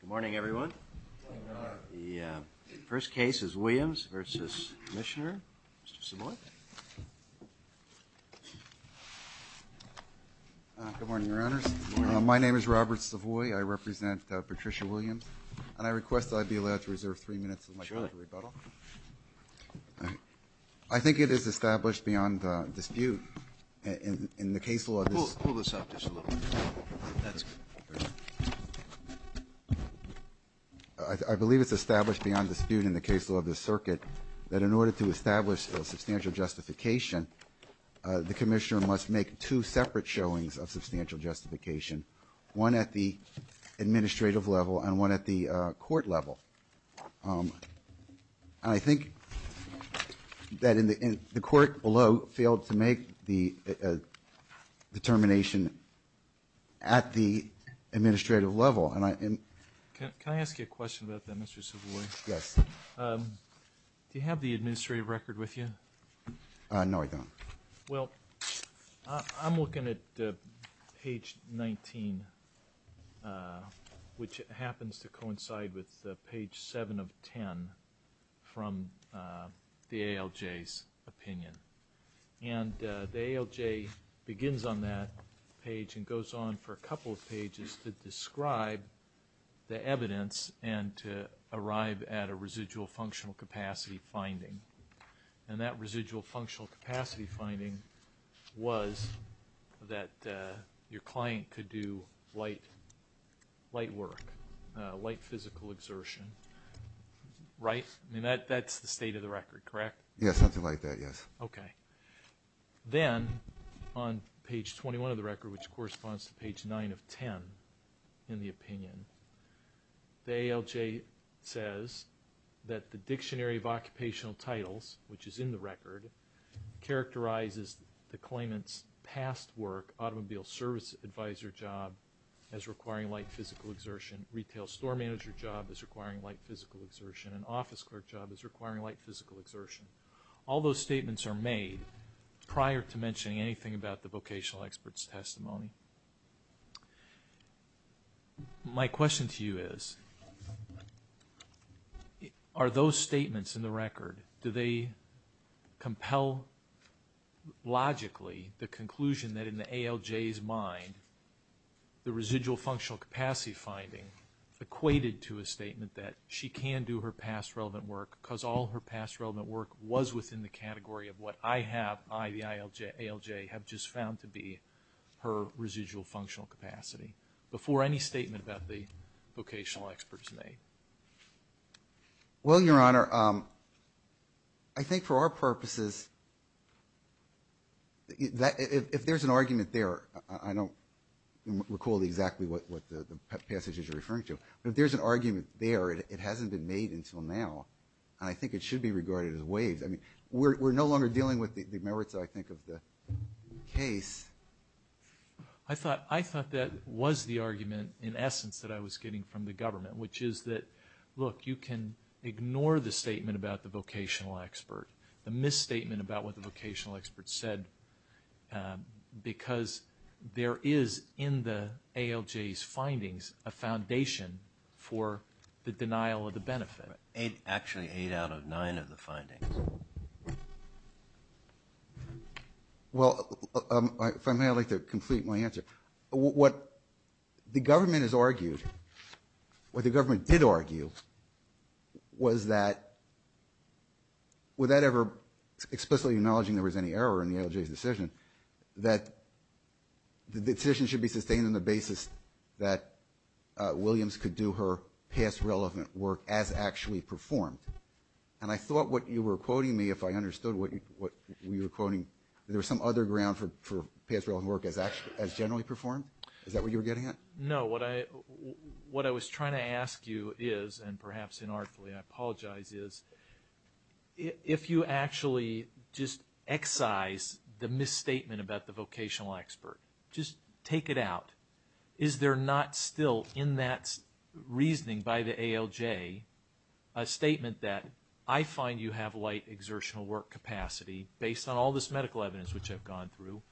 Good morning, everyone. The first case is Williams v. Mishner. Mr. Savoie. Good morning, Your Honors. My name is Robert Savoie. I represent Patricia Williams. And I request that I be allowed to reserve three minutes of my time for rebuttal. I think it is established beyond dispute in the case law. Pull this up just a little bit. I believe it's established beyond dispute in the case law of this circuit that in order to establish a substantial justification, the commissioner must make two separate showings of substantial justification, one at the administrative level and one at the court level. I think that the court below failed to make the determination at the administrative level. Can I ask you a question about that, Mr. Savoie? Yes. Do you have the administrative record with you? No, I don't. Well, I'm looking at page 19, which happens to coincide with page 7 of 10 from the ALJ's opinion. And the ALJ begins on that page and goes on for a couple of pages to describe the evidence and to arrive at a residual functional capacity finding. And that residual functional capacity finding was that your client could do light work, light physical exertion, right? I mean, that's the state of the record, correct? Yes, something like that, yes. Okay. Then on page 21 of the record, which corresponds to page 9 of 10 in the opinion, the ALJ says that the Dictionary of Occupational Titles, which is in the record, characterizes the claimant's past work, automobile service advisor job, as requiring light physical exertion, retail store manager job as requiring light physical exertion, and office clerk job as requiring light physical exertion. All those statements are made prior to mentioning anything about the vocational expert's testimony. My question to you is, are those statements in the record, do they compel logically the conclusion that in the ALJ's mind the residual functional capacity finding equated to a statement that she can do her past relevant work because all her past relevant work was within the category of what I have, I, the ALJ, have just found to be her residual functional capacity, before any statement about the vocational expert is made? Well, Your Honor, I think for our purposes, if there's an argument there, I don't recall exactly what the passages are referring to, but if there's an argument there, it hasn't been made until now, and I think it should be regarded as waived. I mean, we're no longer dealing with the merits, I think, of the case. I thought that was the argument, in essence, that I was getting from the government, which is that, look, you can ignore the statement about the vocational expert, the misstatement about what the vocational expert said, because there is, in the ALJ's findings, a foundation for the denial of the benefit. Actually, eight out of nine of the findings. Well, if I may, I'd like to complete my answer. What the government has argued, what the government did argue, was that, without ever explicitly acknowledging there was any error in the ALJ's decision, that the decision should be sustained on the basis that Williams could do her past relevant work as actually performed. And I thought what you were quoting me, if I understood what you were quoting, there was some other ground for past relevant work as generally performed? Is that what you were getting at? No, what I was trying to ask you is, and perhaps inartfully I apologize, is if you actually just excise the misstatement about the vocational expert, just take it out, is there not still, in that reasoning by the ALJ, a statement that I find you have light exertional work capacity, based on all this medical evidence which I've gone through,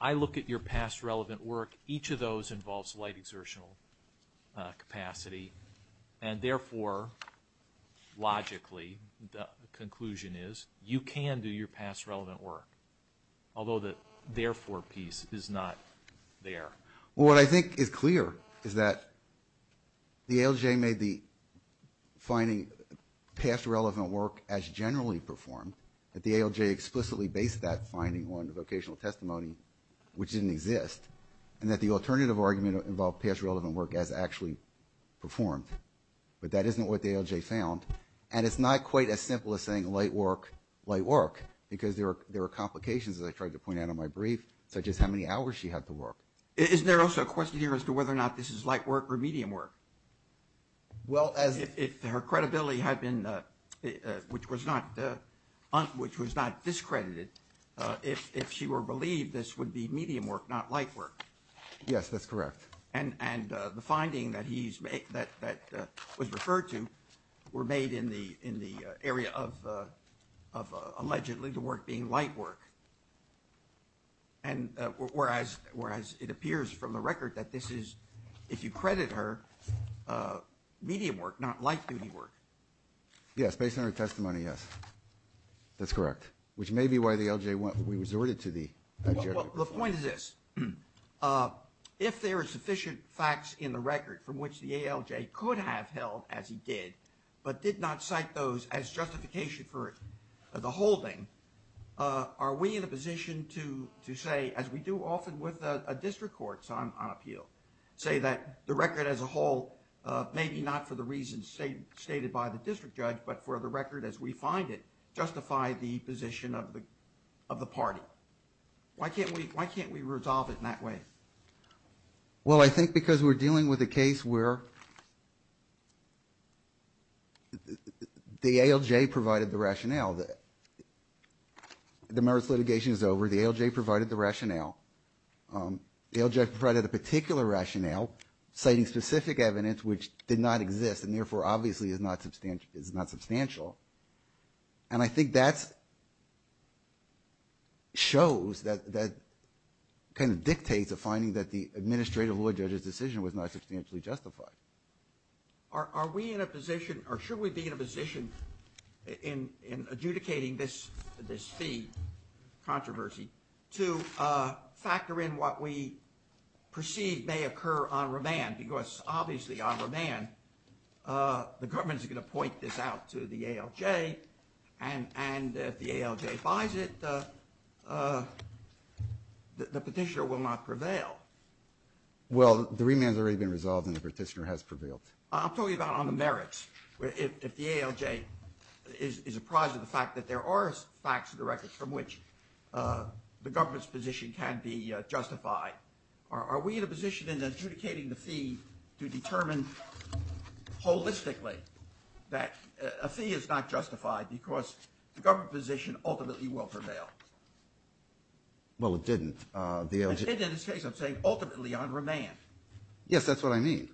I look at your past relevant work, each of those involves light exertional capacity, and therefore, logically, the conclusion is you can do your past relevant work, although the therefore piece is not there. Well, what I think is clear is that the ALJ made the finding, past relevant work as generally performed, that the ALJ explicitly based that finding on the vocational testimony, which didn't exist, and that the alternative argument involved past relevant work as actually performed, but that isn't what the ALJ found, and it's not quite as simple as saying light work, light work, because there are complications, as I tried to point out in my brief, such as how many hours she had to work. Isn't there also a question here as to whether or not this is light work or medium work? Well, if her credibility had been, which was not discredited, if she were believed, this would be medium work, not light work. Yes, that's correct. And the finding that was referred to were made in the area of allegedly the work being light work, and whereas it appears from the record that this is, if you credit her, medium work, not light duty work. Yes, based on her testimony, yes, that's correct, which may be why the ALJ resorted to the alternative. Well, the point is this. If there are sufficient facts in the record from which the ALJ could have held, as he did, but did not cite those as justification for the holding, are we in a position to say, as we do often with district courts on appeal, say that the record as a whole, maybe not for the reasons stated by the district judge, but for the record as we find it, justify the position of the party? Why can't we resolve it in that way? Well, I think because we're dealing with a case where the ALJ provided the rationale. The merits litigation is over. The ALJ provided the rationale. The ALJ provided a particular rationale, citing specific evidence which did not exist and therefore obviously is not substantial. And I think that shows, that kind of dictates a finding that the administrative law judge's decision was not substantially justified. Are we in a position, or should we be in a position in adjudicating this fee controversy to factor in what we perceive may occur on remand? Because obviously on remand, the government is going to point this out to the ALJ and if the ALJ buys it, the petitioner will not prevail. Well, the remand has already been resolved and the petitioner has prevailed. I'm talking about on the merits. If the ALJ is apprised of the fact that there are facts of the record from which the government's position can be justified, are we in a position in adjudicating the fee to determine holistically that a fee is not justified because the government position ultimately will prevail? Well, it didn't. It did in this case. I'm saying ultimately on remand. Yes, that's what I mean.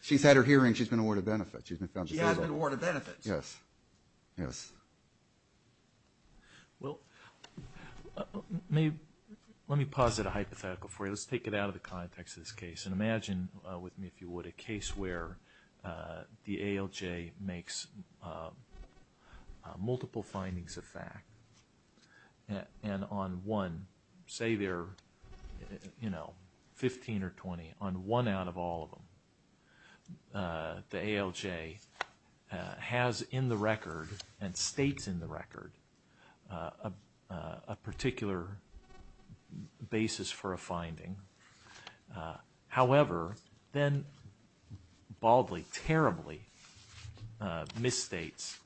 She's had her hearing. She's been awarded benefits. She has been awarded benefits. Yes. Yes. Well, let me posit a hypothetical for you. Let's take it out of the context of this case and imagine with me, if you would, a case where the ALJ makes multiple findings of fact and on one, say there are 15 or 20, on one out of all of them, the ALJ has in the record and states in the record a particular basis for a finding. However, then baldly, terribly misstates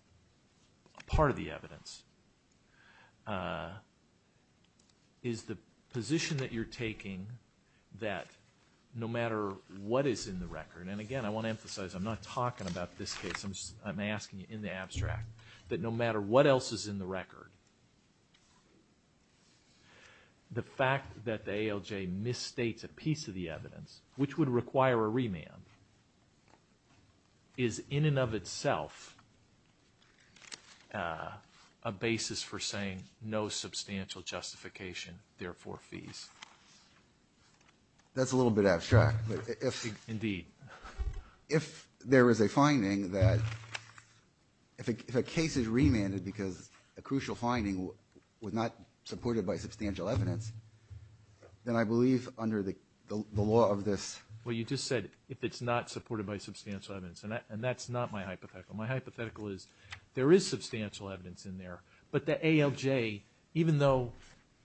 part of the evidence. Is the position that you're taking that no matter what is in the record, and again, I want to emphasize I'm not talking about this case. I'm asking you in the abstract that no matter what else is in the record, the fact that the ALJ misstates a piece of the evidence, which would require a remand, is in and of itself a basis for saying no substantial justification, therefore fees. That's a little bit abstract. Indeed. If there is a finding that if a case is remanded because a crucial finding was not supported by substantial evidence, then I believe under the law of this. Well, you just said if it's not supported by substantial evidence, and that's not my hypothetical. My hypothetical is there is substantial evidence in there, but the ALJ, even though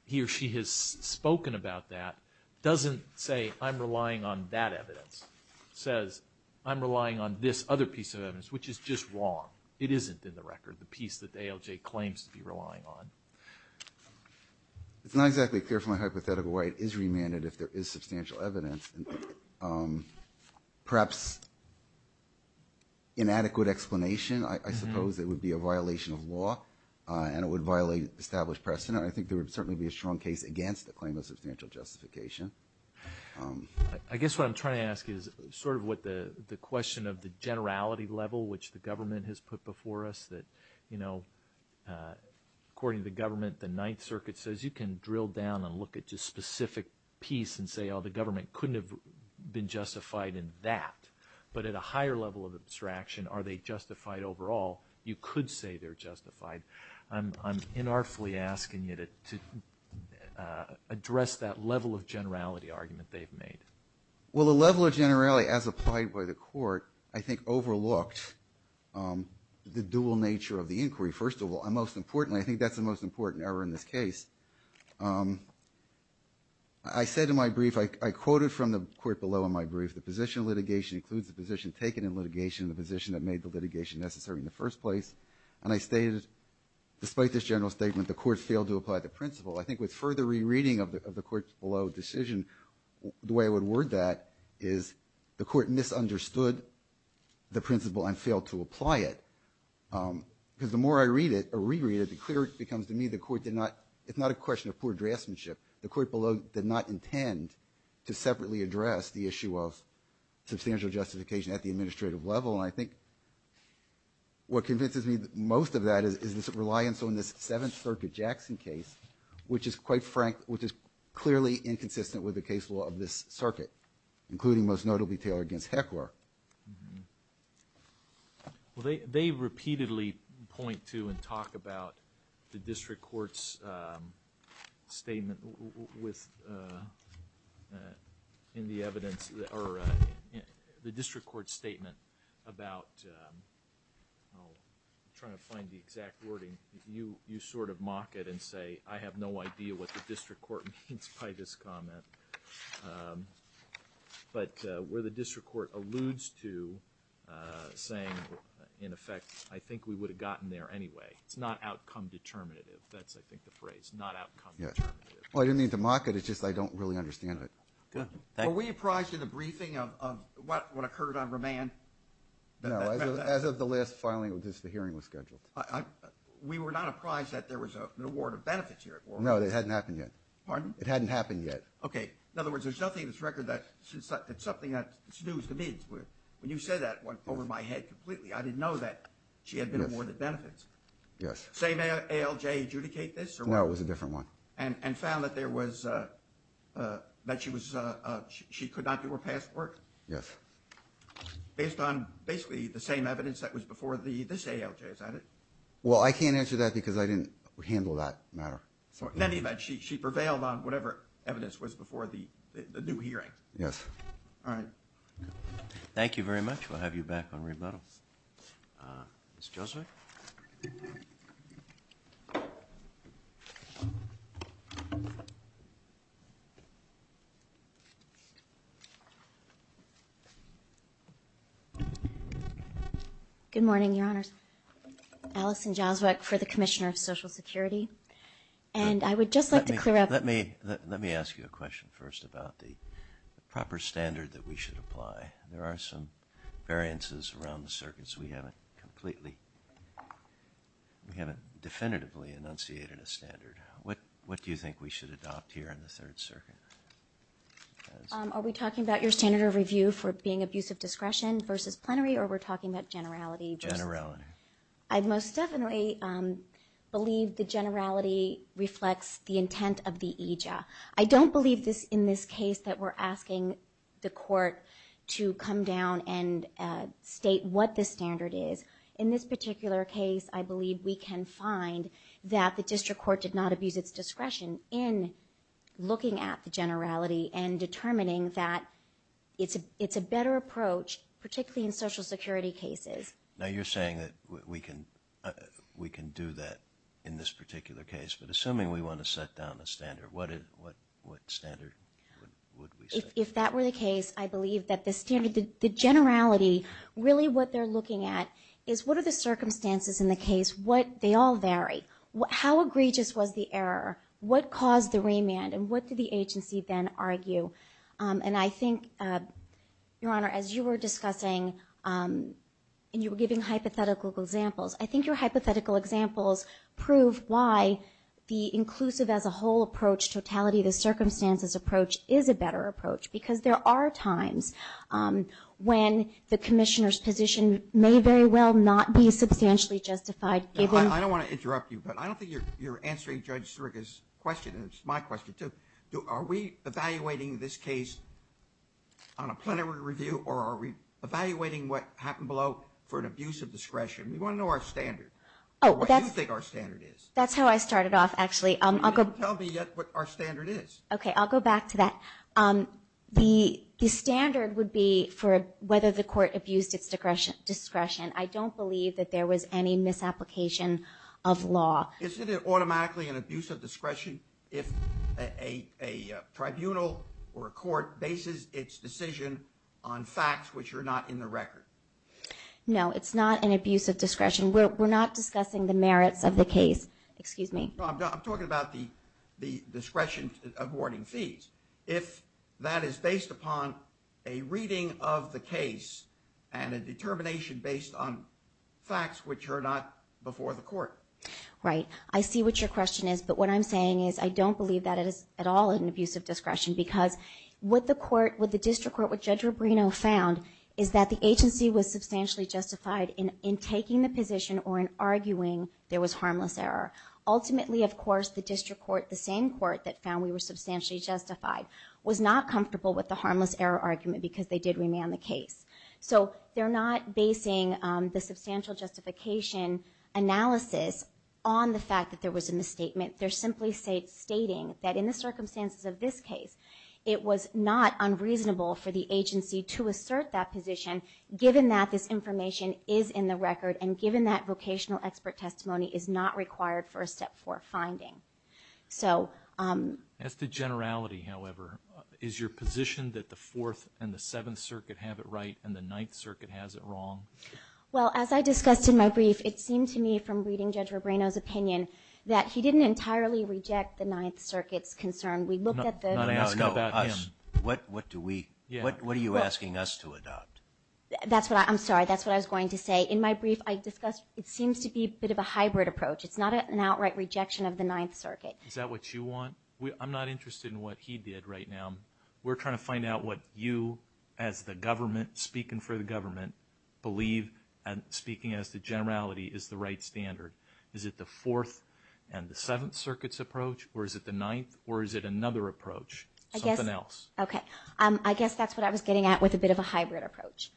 he or she has spoken about that, doesn't say I'm relying on that evidence. It says I'm relying on this other piece of evidence, which is just wrong. It isn't in the record, the piece that the ALJ claims to be relying on. It's not exactly clear from my hypothetical why it is remanded if there is substantial evidence. Perhaps inadequate explanation, I suppose it would be a violation of law, and it would violate established precedent. I think there would certainly be a strong case against the claim of substantial justification. I guess what I'm trying to ask is sort of what the question of the generality level, which the government has put before us, that according to the government, the Ninth Circuit says you can drill down and look at just specific piece and say, oh, the government couldn't have been justified in that. But at a higher level of abstraction, are they justified overall? You could say they're justified. I'm inartfully asking you to address that level of generality argument they've made. Well, the level of generality, as applied by the court, I think overlooked the dual nature of the inquiry. First of all, and most importantly, I think that's the most important error in this case. I said in my brief, I quoted from the court below in my brief, the position of litigation includes the position taken in litigation and the position that made the litigation necessary in the first place. And I stated, despite this general statement, the court failed to apply the principle. I think with further rereading of the court below decision, the way I would word that is the court misunderstood the principle and failed to apply it. Because the more I reread it, the clearer it becomes to me the court did not, it's not a question of poor draftsmanship. The court below did not intend to separately address the issue of substantial justification at the administrative level. And I think what convinces me most of that is this reliance on this Seventh Circuit Jackson case, which is quite frank, which is clearly inconsistent with the case law of this circuit, including, most notably, Taylor v. Heckler. Well, they repeatedly point to and talk about the district court's statement with, in the evidence, or the district court's statement about, I'm trying to find the exact wording, you sort of mock it and say, I have no idea what the district court means by this comment. But where the district court alludes to saying, in effect, I think we would have gotten there anyway. It's not outcome determinative. That's, I think, the phrase. Not outcome determinative. Well, I didn't mean to mock it. It's just I don't really understand it. Were we apprised in the briefing of what occurred on remand? No. As of the last filing, the hearing was scheduled. We were not apprised that there was an award of benefits here? No, it hadn't happened yet. Pardon? It hadn't happened yet. Okay. In other words, there's nothing in this record that, it's something that snoozed the mids. When you said that, it went over my head completely. I didn't know that she had been awarded benefits. Yes. Same ALJ adjudicate this? No, it was a different one. And found that there was, that she was, she could not do her past work? Yes. Based on basically the same evidence that was before this ALJ, is that it? Well, I can't answer that because I didn't handle that matter. In any event, she prevailed on whatever evidence was before the new hearing. Yes. All right. Thank you very much. We'll have you back on rebuttal. Ms. Joswiec? Good morning, Your Honors. Allison Joswiec for the Commissioner of Social Security. And I would just like to clear up. Let me ask you a question first about the proper standard that we should apply. There are some variances around the circuits. We haven't completely, we haven't definitively enunciated a standard. What do you think we should adopt here in the Third Circuit? Are we talking about your standard of review for being abusive discretion versus plenary, or we're talking about generality? Generality. I most definitely believe the generality reflects the intent of the EJA. I don't believe in this case that we're asking the court to come down and state what the standard is. In this particular case, I believe we can find that the district court did not abuse its discretion in looking at the generality and determining that it's a better approach, particularly in Social Security cases. Now, you're saying that we can do that in this particular case, but assuming we want to set down a standard, what standard would we set? If that were the case, I believe that the standard, the generality, really what they're looking at is what are the circumstances in the case? They all vary. How egregious was the error? What caused the remand, and what did the agency then argue? And I think, Your Honor, as you were discussing and you were giving hypothetical examples, I think your hypothetical examples prove why the inclusive as a whole approach, totality of the circumstances approach is a better approach because there are times when the commissioner's position may very well not be substantially justified. I don't want to interrupt you, but I don't think you're answering Judge Sirica's question. It's my question, too. Are we evaluating this case on a plenary review or are we evaluating what happened below for an abuse of discretion? We want to know our standard, what you think our standard is. That's how I started off, actually. You didn't tell me yet what our standard is. Okay, I'll go back to that. The standard would be for whether the court abused its discretion. I don't believe that there was any misapplication of law. Isn't it automatically an abuse of discretion if a tribunal or a court bases its decision on facts which are not in the record? No, it's not an abuse of discretion. We're not discussing the merits of the case. Excuse me. I'm talking about the discretion of awarding fees. If that is based upon a reading of the case and a determination based on facts which are not before the court. Right. I see what your question is, but what I'm saying is I don't believe that it is at all an abuse of discretion because what the district court, what Judge Rubino found, is that the agency was substantially justified in taking the position or in arguing there was harmless error. Ultimately, of course, the district court, the same court that found we were substantially justified, was not comfortable with the harmless error argument because they did remand the case. So they're not basing the substantial justification analysis on the fact that there was a misstatement. They're simply stating that in the circumstances of this case, it was not unreasonable for the agency to assert that position given that this information is in the record and given that vocational expert testimony is not required for a Step 4 finding. As to generality, however, is your position that the Fourth and the Seventh Circuit have it right and the Ninth Circuit has it wrong? Well, as I discussed in my brief, it seemed to me from reading Judge Rubino's opinion that he didn't entirely reject the Ninth Circuit's concern. We looked at the... No, no, no. What are you asking us to adopt? I'm sorry. That's what I was going to say. In my brief, I discussed it seems to be a bit of a hybrid approach. It's not an outright rejection of the Ninth Circuit. Is that what you want? I'm not interested in what he did right now. We're trying to find out what you, as the government, speaking for the government, believe, speaking as to generality, is the right standard. Is it the Fourth and the Seventh Circuit's approach? Or is it the Ninth? Or is it another approach? Something else. Okay. I guess that's what I was getting at with a bit of a hybrid approach.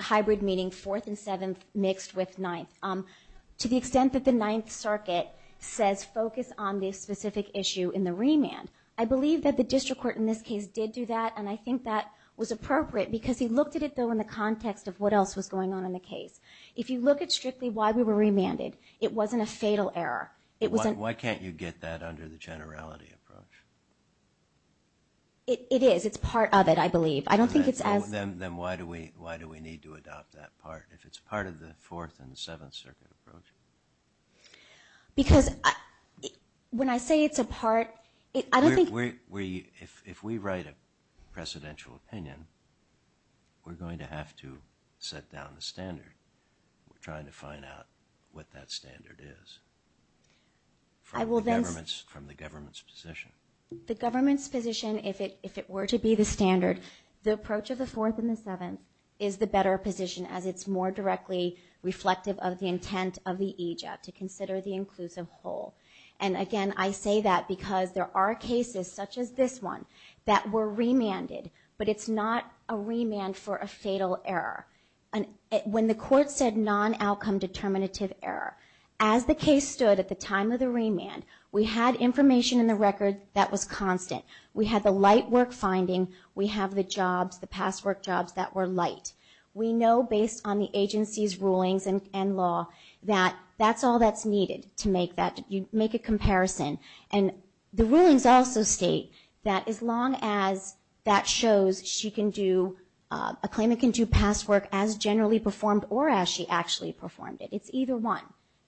Hybrid meaning Fourth and Seventh mixed with Ninth. To the extent that the Ninth Circuit says focus on this specific issue in the remand, I believe that the district court in this case did do that, and I think that was appropriate because he looked at it, though, in the context of what else was going on in the case. If you look at strictly why we were remanded, it wasn't a fatal error. Why can't you get that under the generality approach? It is. It's part of it, I believe. I don't think it's as – Then why do we need to adopt that part if it's part of the Fourth and the Seventh Circuit approach? Because when I say it's a part, I don't think – If we write a precedential opinion, we're going to have to set down the standard. We're trying to find out what that standard is from the government's position. The government's position, if it were to be the standard, the approach of the Fourth and the Seventh is the better position as it's more directly reflective of the intent of the EJAC to consider the inclusive whole. Again, I say that because there are cases such as this one that were remanded, but it's not a remand for a fatal error. When the court said non-outcome determinative error, as the case stood at the time of the remand, we had information in the record that was constant. We had the light work finding. We have the jobs, the past work jobs that were light. We know based on the agency's rulings and law that that's all that's needed to make that – make a comparison. And the rulings also state that as long as that shows she can do – a claimant can do past work as generally performed or as she actually performed it. It's either one.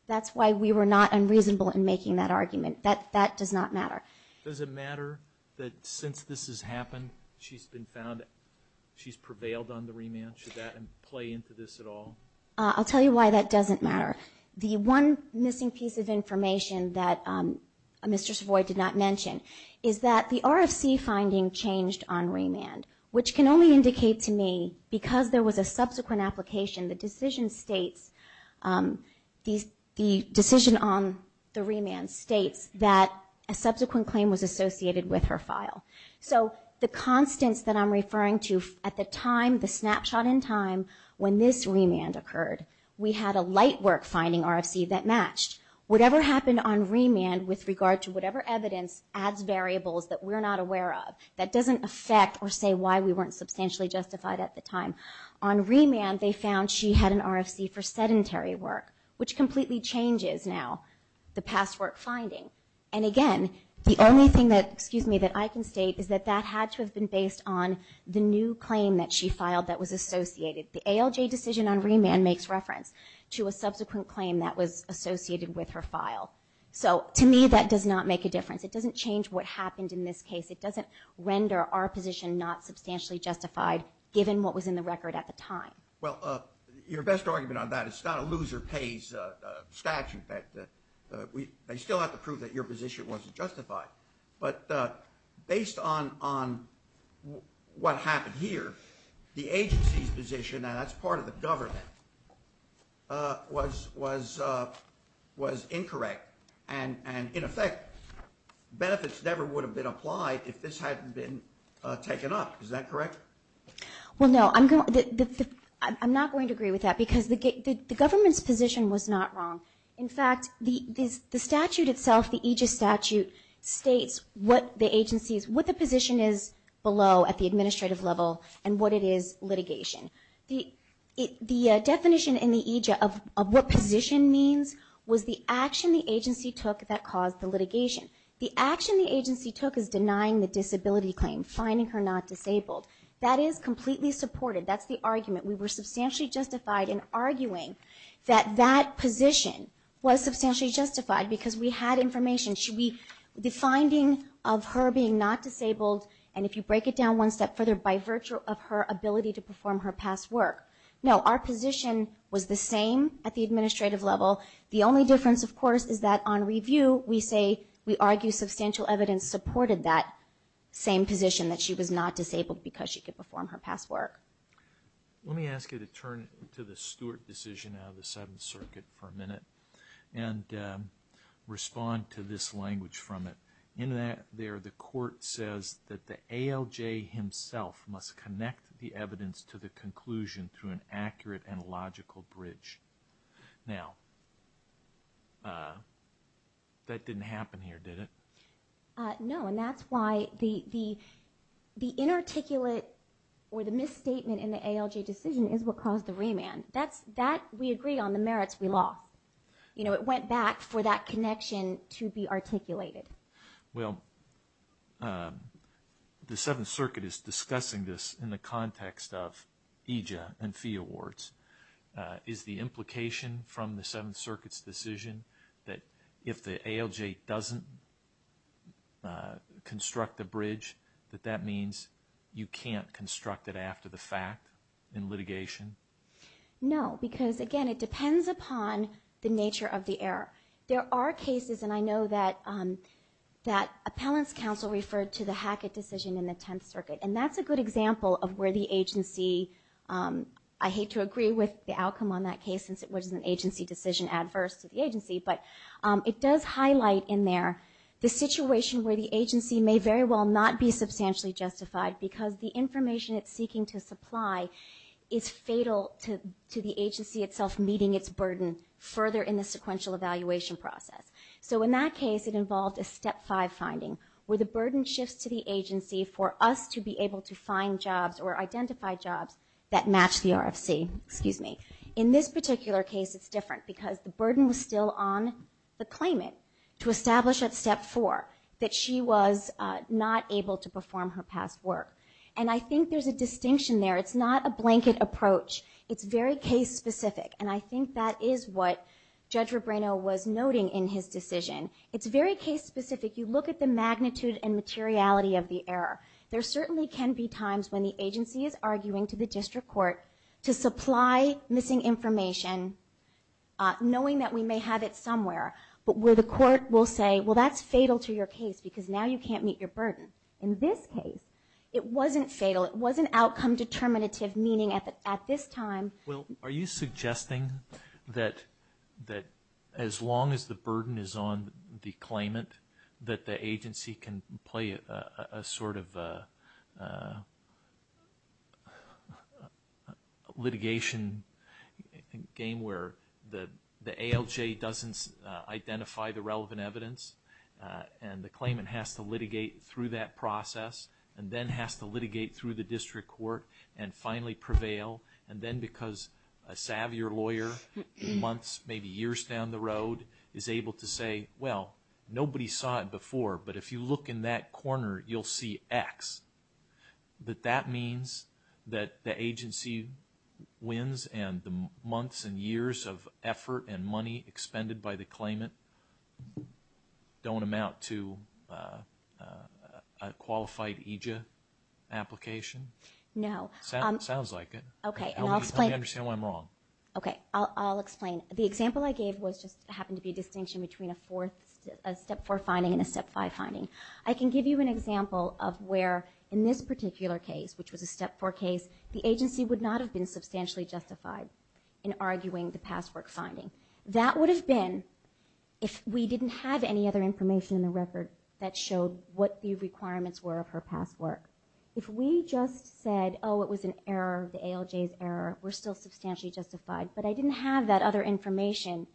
That's why we were not unreasonable in making that argument. That does not matter. Does it matter that since this has happened, she's been found – she's prevailed on the remand? Should that play into this at all? I'll tell you why that doesn't matter. The one missing piece of information that Mr. Savoy did not mention is that the RFC finding changed on remand, which can only indicate to me because there was a subsequent application, the decision states – the decision on the remand states that a subsequent claim was associated with her file. So the constants that I'm referring to at the time, the snapshot in time, when this remand occurred, we had a light work finding RFC that matched. Whatever happened on remand with regard to whatever evidence adds variables that we're not aware of, that doesn't affect or say why we weren't substantially justified at the time. On remand, they found she had an RFC for sedentary work, which completely changes now the past work finding. And again, the only thing that – excuse me – that I can state is that that had to have been based on the new claim that she filed that was associated. The ALJ decision on remand makes reference to a subsequent claim that was associated with her file. So to me that does not make a difference. It doesn't change what happened in this case. It doesn't render our position not substantially justified given what was in the record at the time. Well, your best argument on that is it's not a lose-or-pays statute. They still have to prove that your position wasn't justified. But based on what happened here, the agency's position, and that's part of the government, was incorrect. And, in effect, benefits never would have been applied if this hadn't been taken up. Is that correct? Well, no, I'm not going to agree with that because the government's position was not wrong. In fact, the statute itself, the EJIA statute, states what the position is below at the administrative level and what it is litigation. The definition in the EJIA of what position means was the action the agency took that caused the litigation. The action the agency took is denying the disability claim, finding her not disabled. That is completely supported. That's the argument. We were substantially justified in arguing that that position was substantially justified because we had information. The finding of her being not disabled, and if you break it down one step further, by virtue of her ability to perform her past work. No, our position was the same at the administrative level. The only difference, of course, is that on review, we say we argue substantial evidence supported that same position, that she was not disabled because she could perform her past work. Let me ask you to turn to the Stewart decision out of the Seventh Circuit for a minute and respond to this language from it. In there, the court says that the ALJ himself must connect the evidence to the conclusion through an accurate and logical bridge. Now, that didn't happen here, did it? No, and that's why the inarticulate or the misstatement in the ALJ decision is what caused the remand. That we agree on, the merits we lost. It went back for that connection to be articulated. Well, the Seventh Circuit is discussing this in the context of EJA and fee awards. Is the implication from the Seventh Circuit's decision that if the ALJ doesn't construct the bridge, that that means you can't construct it after the fact in litigation? No, because, again, it depends upon the nature of the error. There are cases, and I know that appellant's counsel referred to the Hackett decision in the Tenth Circuit, and that's a good example of where the agency, I hate to agree with the outcome on that case, which is an agency decision adverse to the agency, but it does highlight in there the situation where the agency may very well not be substantially justified because the information it's seeking to supply is fatal to the agency itself meeting its burden further in the sequential evaluation process. So in that case, it involved a Step 5 finding, where the burden shifts to the agency for us to be able to find jobs or identify jobs that match the RFC. In this particular case, it's different, because the burden was still on the claimant to establish at Step 4 that she was not able to perform her past work. And I think there's a distinction there. It's not a blanket approach. It's very case-specific, and I think that is what Judge Rubino was noting in his decision. It's very case-specific. You look at the magnitude and materiality of the error. There certainly can be times when the agency is arguing to the district court to supply missing information knowing that we may have it somewhere, but where the court will say, well, that's fatal to your case because now you can't meet your burden. In this case, it wasn't fatal. It was an outcome-determinative meaning at this time. Well, are you suggesting that as long as the burden is on the claimant, that the agency can play a sort of litigation game where the ALJ doesn't identify the relevant evidence and the claimant has to litigate through that process and then has to litigate through the district court and finally prevail, and then because a savvier lawyer months, maybe years down the road, is able to say, well, nobody saw it before, but if you look in that corner, you'll see X, that that means that the agency wins and the months and years of effort and money expended by the claimant don't amount to a qualified EJIA application? No. Sounds like it. Okay, and I'll explain. Help me understand why I'm wrong. Okay, I'll explain. The example I gave just happened to be a distinction between a Step 4 finding and a Step 5 finding. I can give you an example of where in this particular case, which was a Step 4 case, the agency would not have been substantially justified in arguing the past work finding. That would have been if we didn't have any other information in the record that showed what the requirements were of her past work. If we just said, oh, it was an error, the ALJ's error, we're still substantially justified, but I didn't have that other information.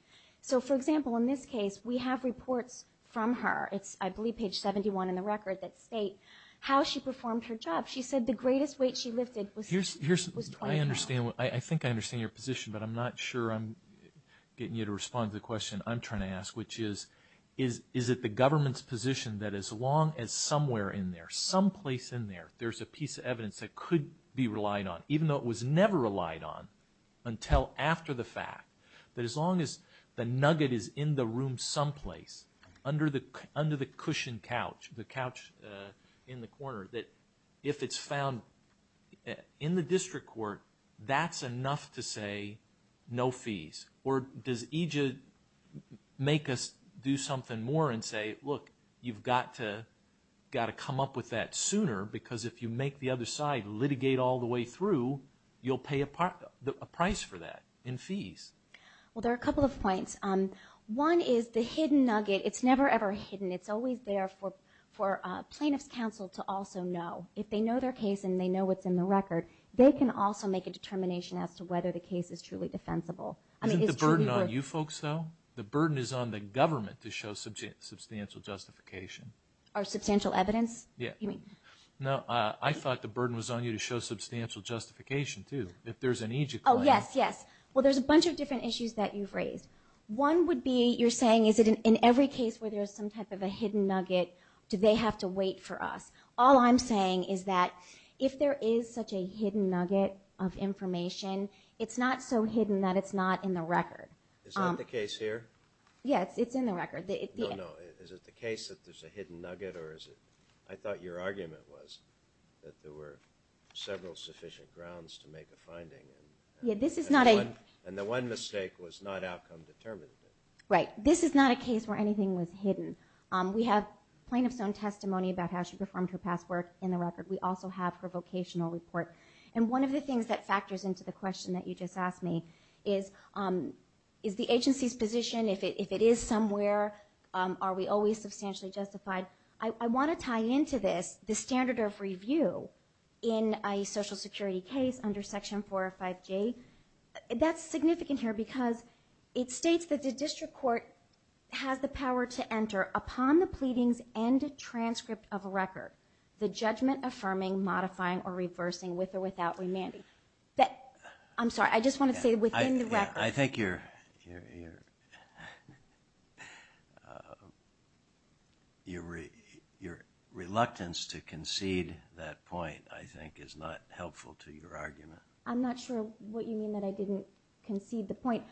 So, for example, in this case, we have reports from her. It's, I believe, page 71 in the record that state how she performed her job. She said the greatest weight she lifted was 20 pounds. I think I understand your position, but I'm not sure I'm getting you to respond to the question I'm trying to ask, which is, is it the government's position that as long as somewhere in there, someplace in there, there's a piece of evidence that could be relied on, even though it was never relied on until after the fact, that as long as the nugget is in the room someplace, under the cushioned couch, the couch in the corner, that if it's found in the district court, that's enough to say no fees? Or does EJID make us do something more and say, look, you've got to come up with that sooner, because if you make the other side litigate all the way through, you'll pay a price for that in fees? Well, there are a couple of points. One is the hidden nugget, it's never, ever hidden. It's always there for plaintiff's counsel to also know. If they know their case and they know what's in the record, they can also make a determination as to whether the case is truly defensible. Isn't the burden on you folks, though? The burden is on the government to show substantial justification. Or substantial evidence? No, I thought the burden was on you to show substantial justification, too, if there's an EJID claim. Oh, yes, yes. Well, there's a bunch of different issues that you've raised. One would be you're saying is it in every case where there's some type of a hidden nugget, do they have to wait for us? All I'm saying is that if there is such a hidden nugget of information, it's not so hidden that it's not in the record. Is that the case here? Yes, it's in the record. No, no. Is it the case that there's a hidden nugget, or is it – I thought your argument was that there were several sufficient grounds to make a finding. Yeah, this is not a – And the one mistake was not outcome determined. Right. This is not a case where anything was hidden. We have plaintiff's own testimony about how she performed her past work in the record. We also have her vocational report. And one of the things that factors into the question that you just asked me is, is the agency's position, if it is somewhere, are we always substantially justified? I want to tie into this the standard of review in a Social Security case under Section 405J. That's significant here because it states that the district court has the power to enter, upon the pleadings and transcript of a record, the judgment affirming, modifying, or reversing, with or without remanding. I'm sorry. I just wanted to say within the record. I think your reluctance to concede that point, I think, is not helpful to your argument. I'm not sure what you mean that I didn't concede the point.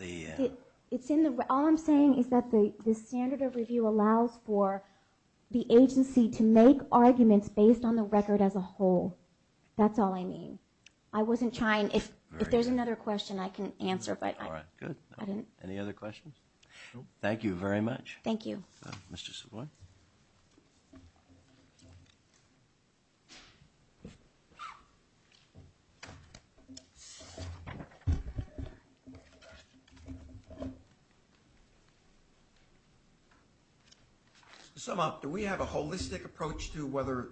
It's in the – all I'm saying is that the standard of review allows for the agency to make arguments based on the record as a whole. That's all I mean. I wasn't trying – if there's another question, I can answer. All right. Good. Any other questions? Thank you very much. Thank you. Mr. Savoy? Mr. Savoy? To sum up, do we have a holistic approach to whether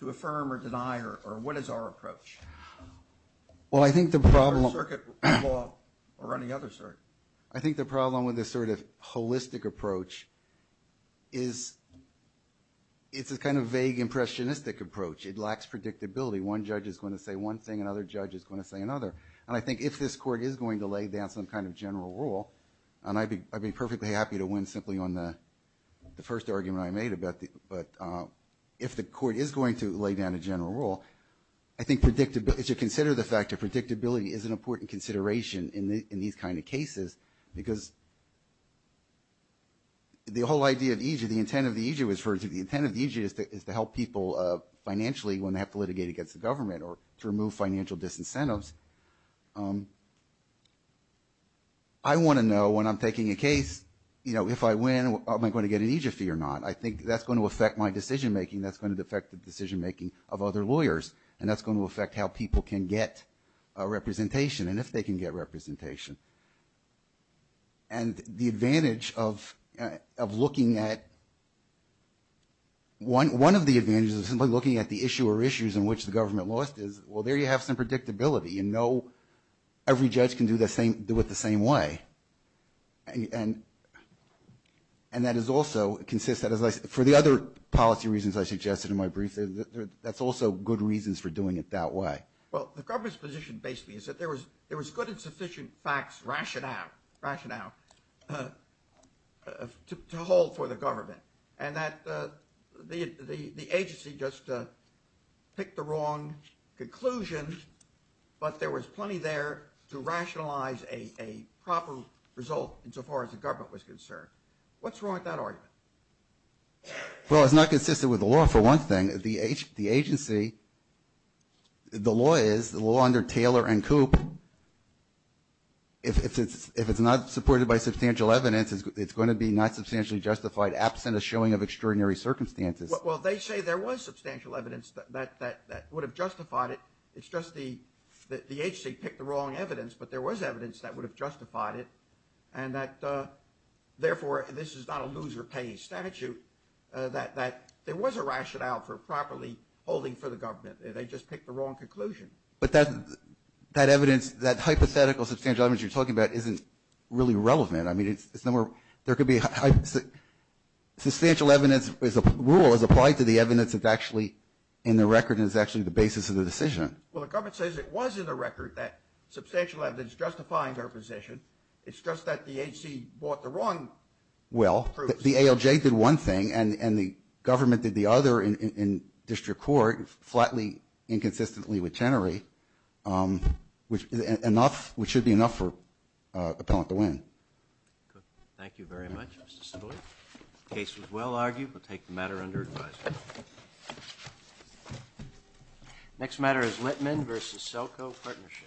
to affirm or deny or what is our approach? Well, I think the problem – Or circuit law or any other circuit. I think the problem with this sort of holistic approach is it's a kind of vague impressionistic approach. It lacks predictability. One judge is going to say one thing, another judge is going to say another. And I think if this court is going to lay down some kind of general rule – and I'd be perfectly happy to win simply on the first argument I made about the – but if the court is going to lay down a general rule, I think predictability – because the whole idea of EJ – the intent of the EJ was for – the intent of the EJ is to help people financially when they have to litigate against the government or to remove financial disincentives. I want to know when I'm taking a case, you know, if I win, am I going to get an EJ fee or not? I think that's going to affect my decision making. That's going to affect the decision making of other lawyers. And that's going to affect how people can get representation and if they can get representation. And the advantage of looking at – one of the advantages of simply looking at the issue or issues in which the government lost is, well, there you have some predictability. You know every judge can do it the same way. And that is also – it consists – for the other policy reasons I suggested in my brief, that's also good reasons for doing it that way. Well, the government's position basically is that there was good and sufficient facts, rationale, to hold for the government and that the agency just picked the wrong conclusion, but there was plenty there to rationalize a proper result insofar as the government was concerned. What's wrong with that argument? Well, it's not consistent with the law for one thing. The agency – the law is, the law under Taylor and Koop, if it's not supported by substantial evidence, it's going to be not substantially justified absent a showing of extraordinary circumstances. Well, they say there was substantial evidence that would have justified it. It's just the agency picked the wrong evidence, but there was evidence that would have justified it and that, therefore, this is not a lose-or-pay statute, that there was a rationale for properly holding for the government. They just picked the wrong conclusion. But that evidence, that hypothetical substantial evidence you're talking about isn't really relevant. I mean, it's no more – there could be – substantial evidence as a rule is applied to the evidence that's actually in the record and is actually the basis of the decision. Well, the government says it was in the record that substantial evidence justifying their position. It's just that the agency bought the wrong proofs. Well, the ALJ did one thing and the government did the other in district court, flatly inconsistently with Chenery, which is enough – which should be enough for Appellant to win. Thank you very much, Mr. Stiglitz. The case was well argued. We'll take the matter under advisory. Next matter is Littman v. Selko Partnership.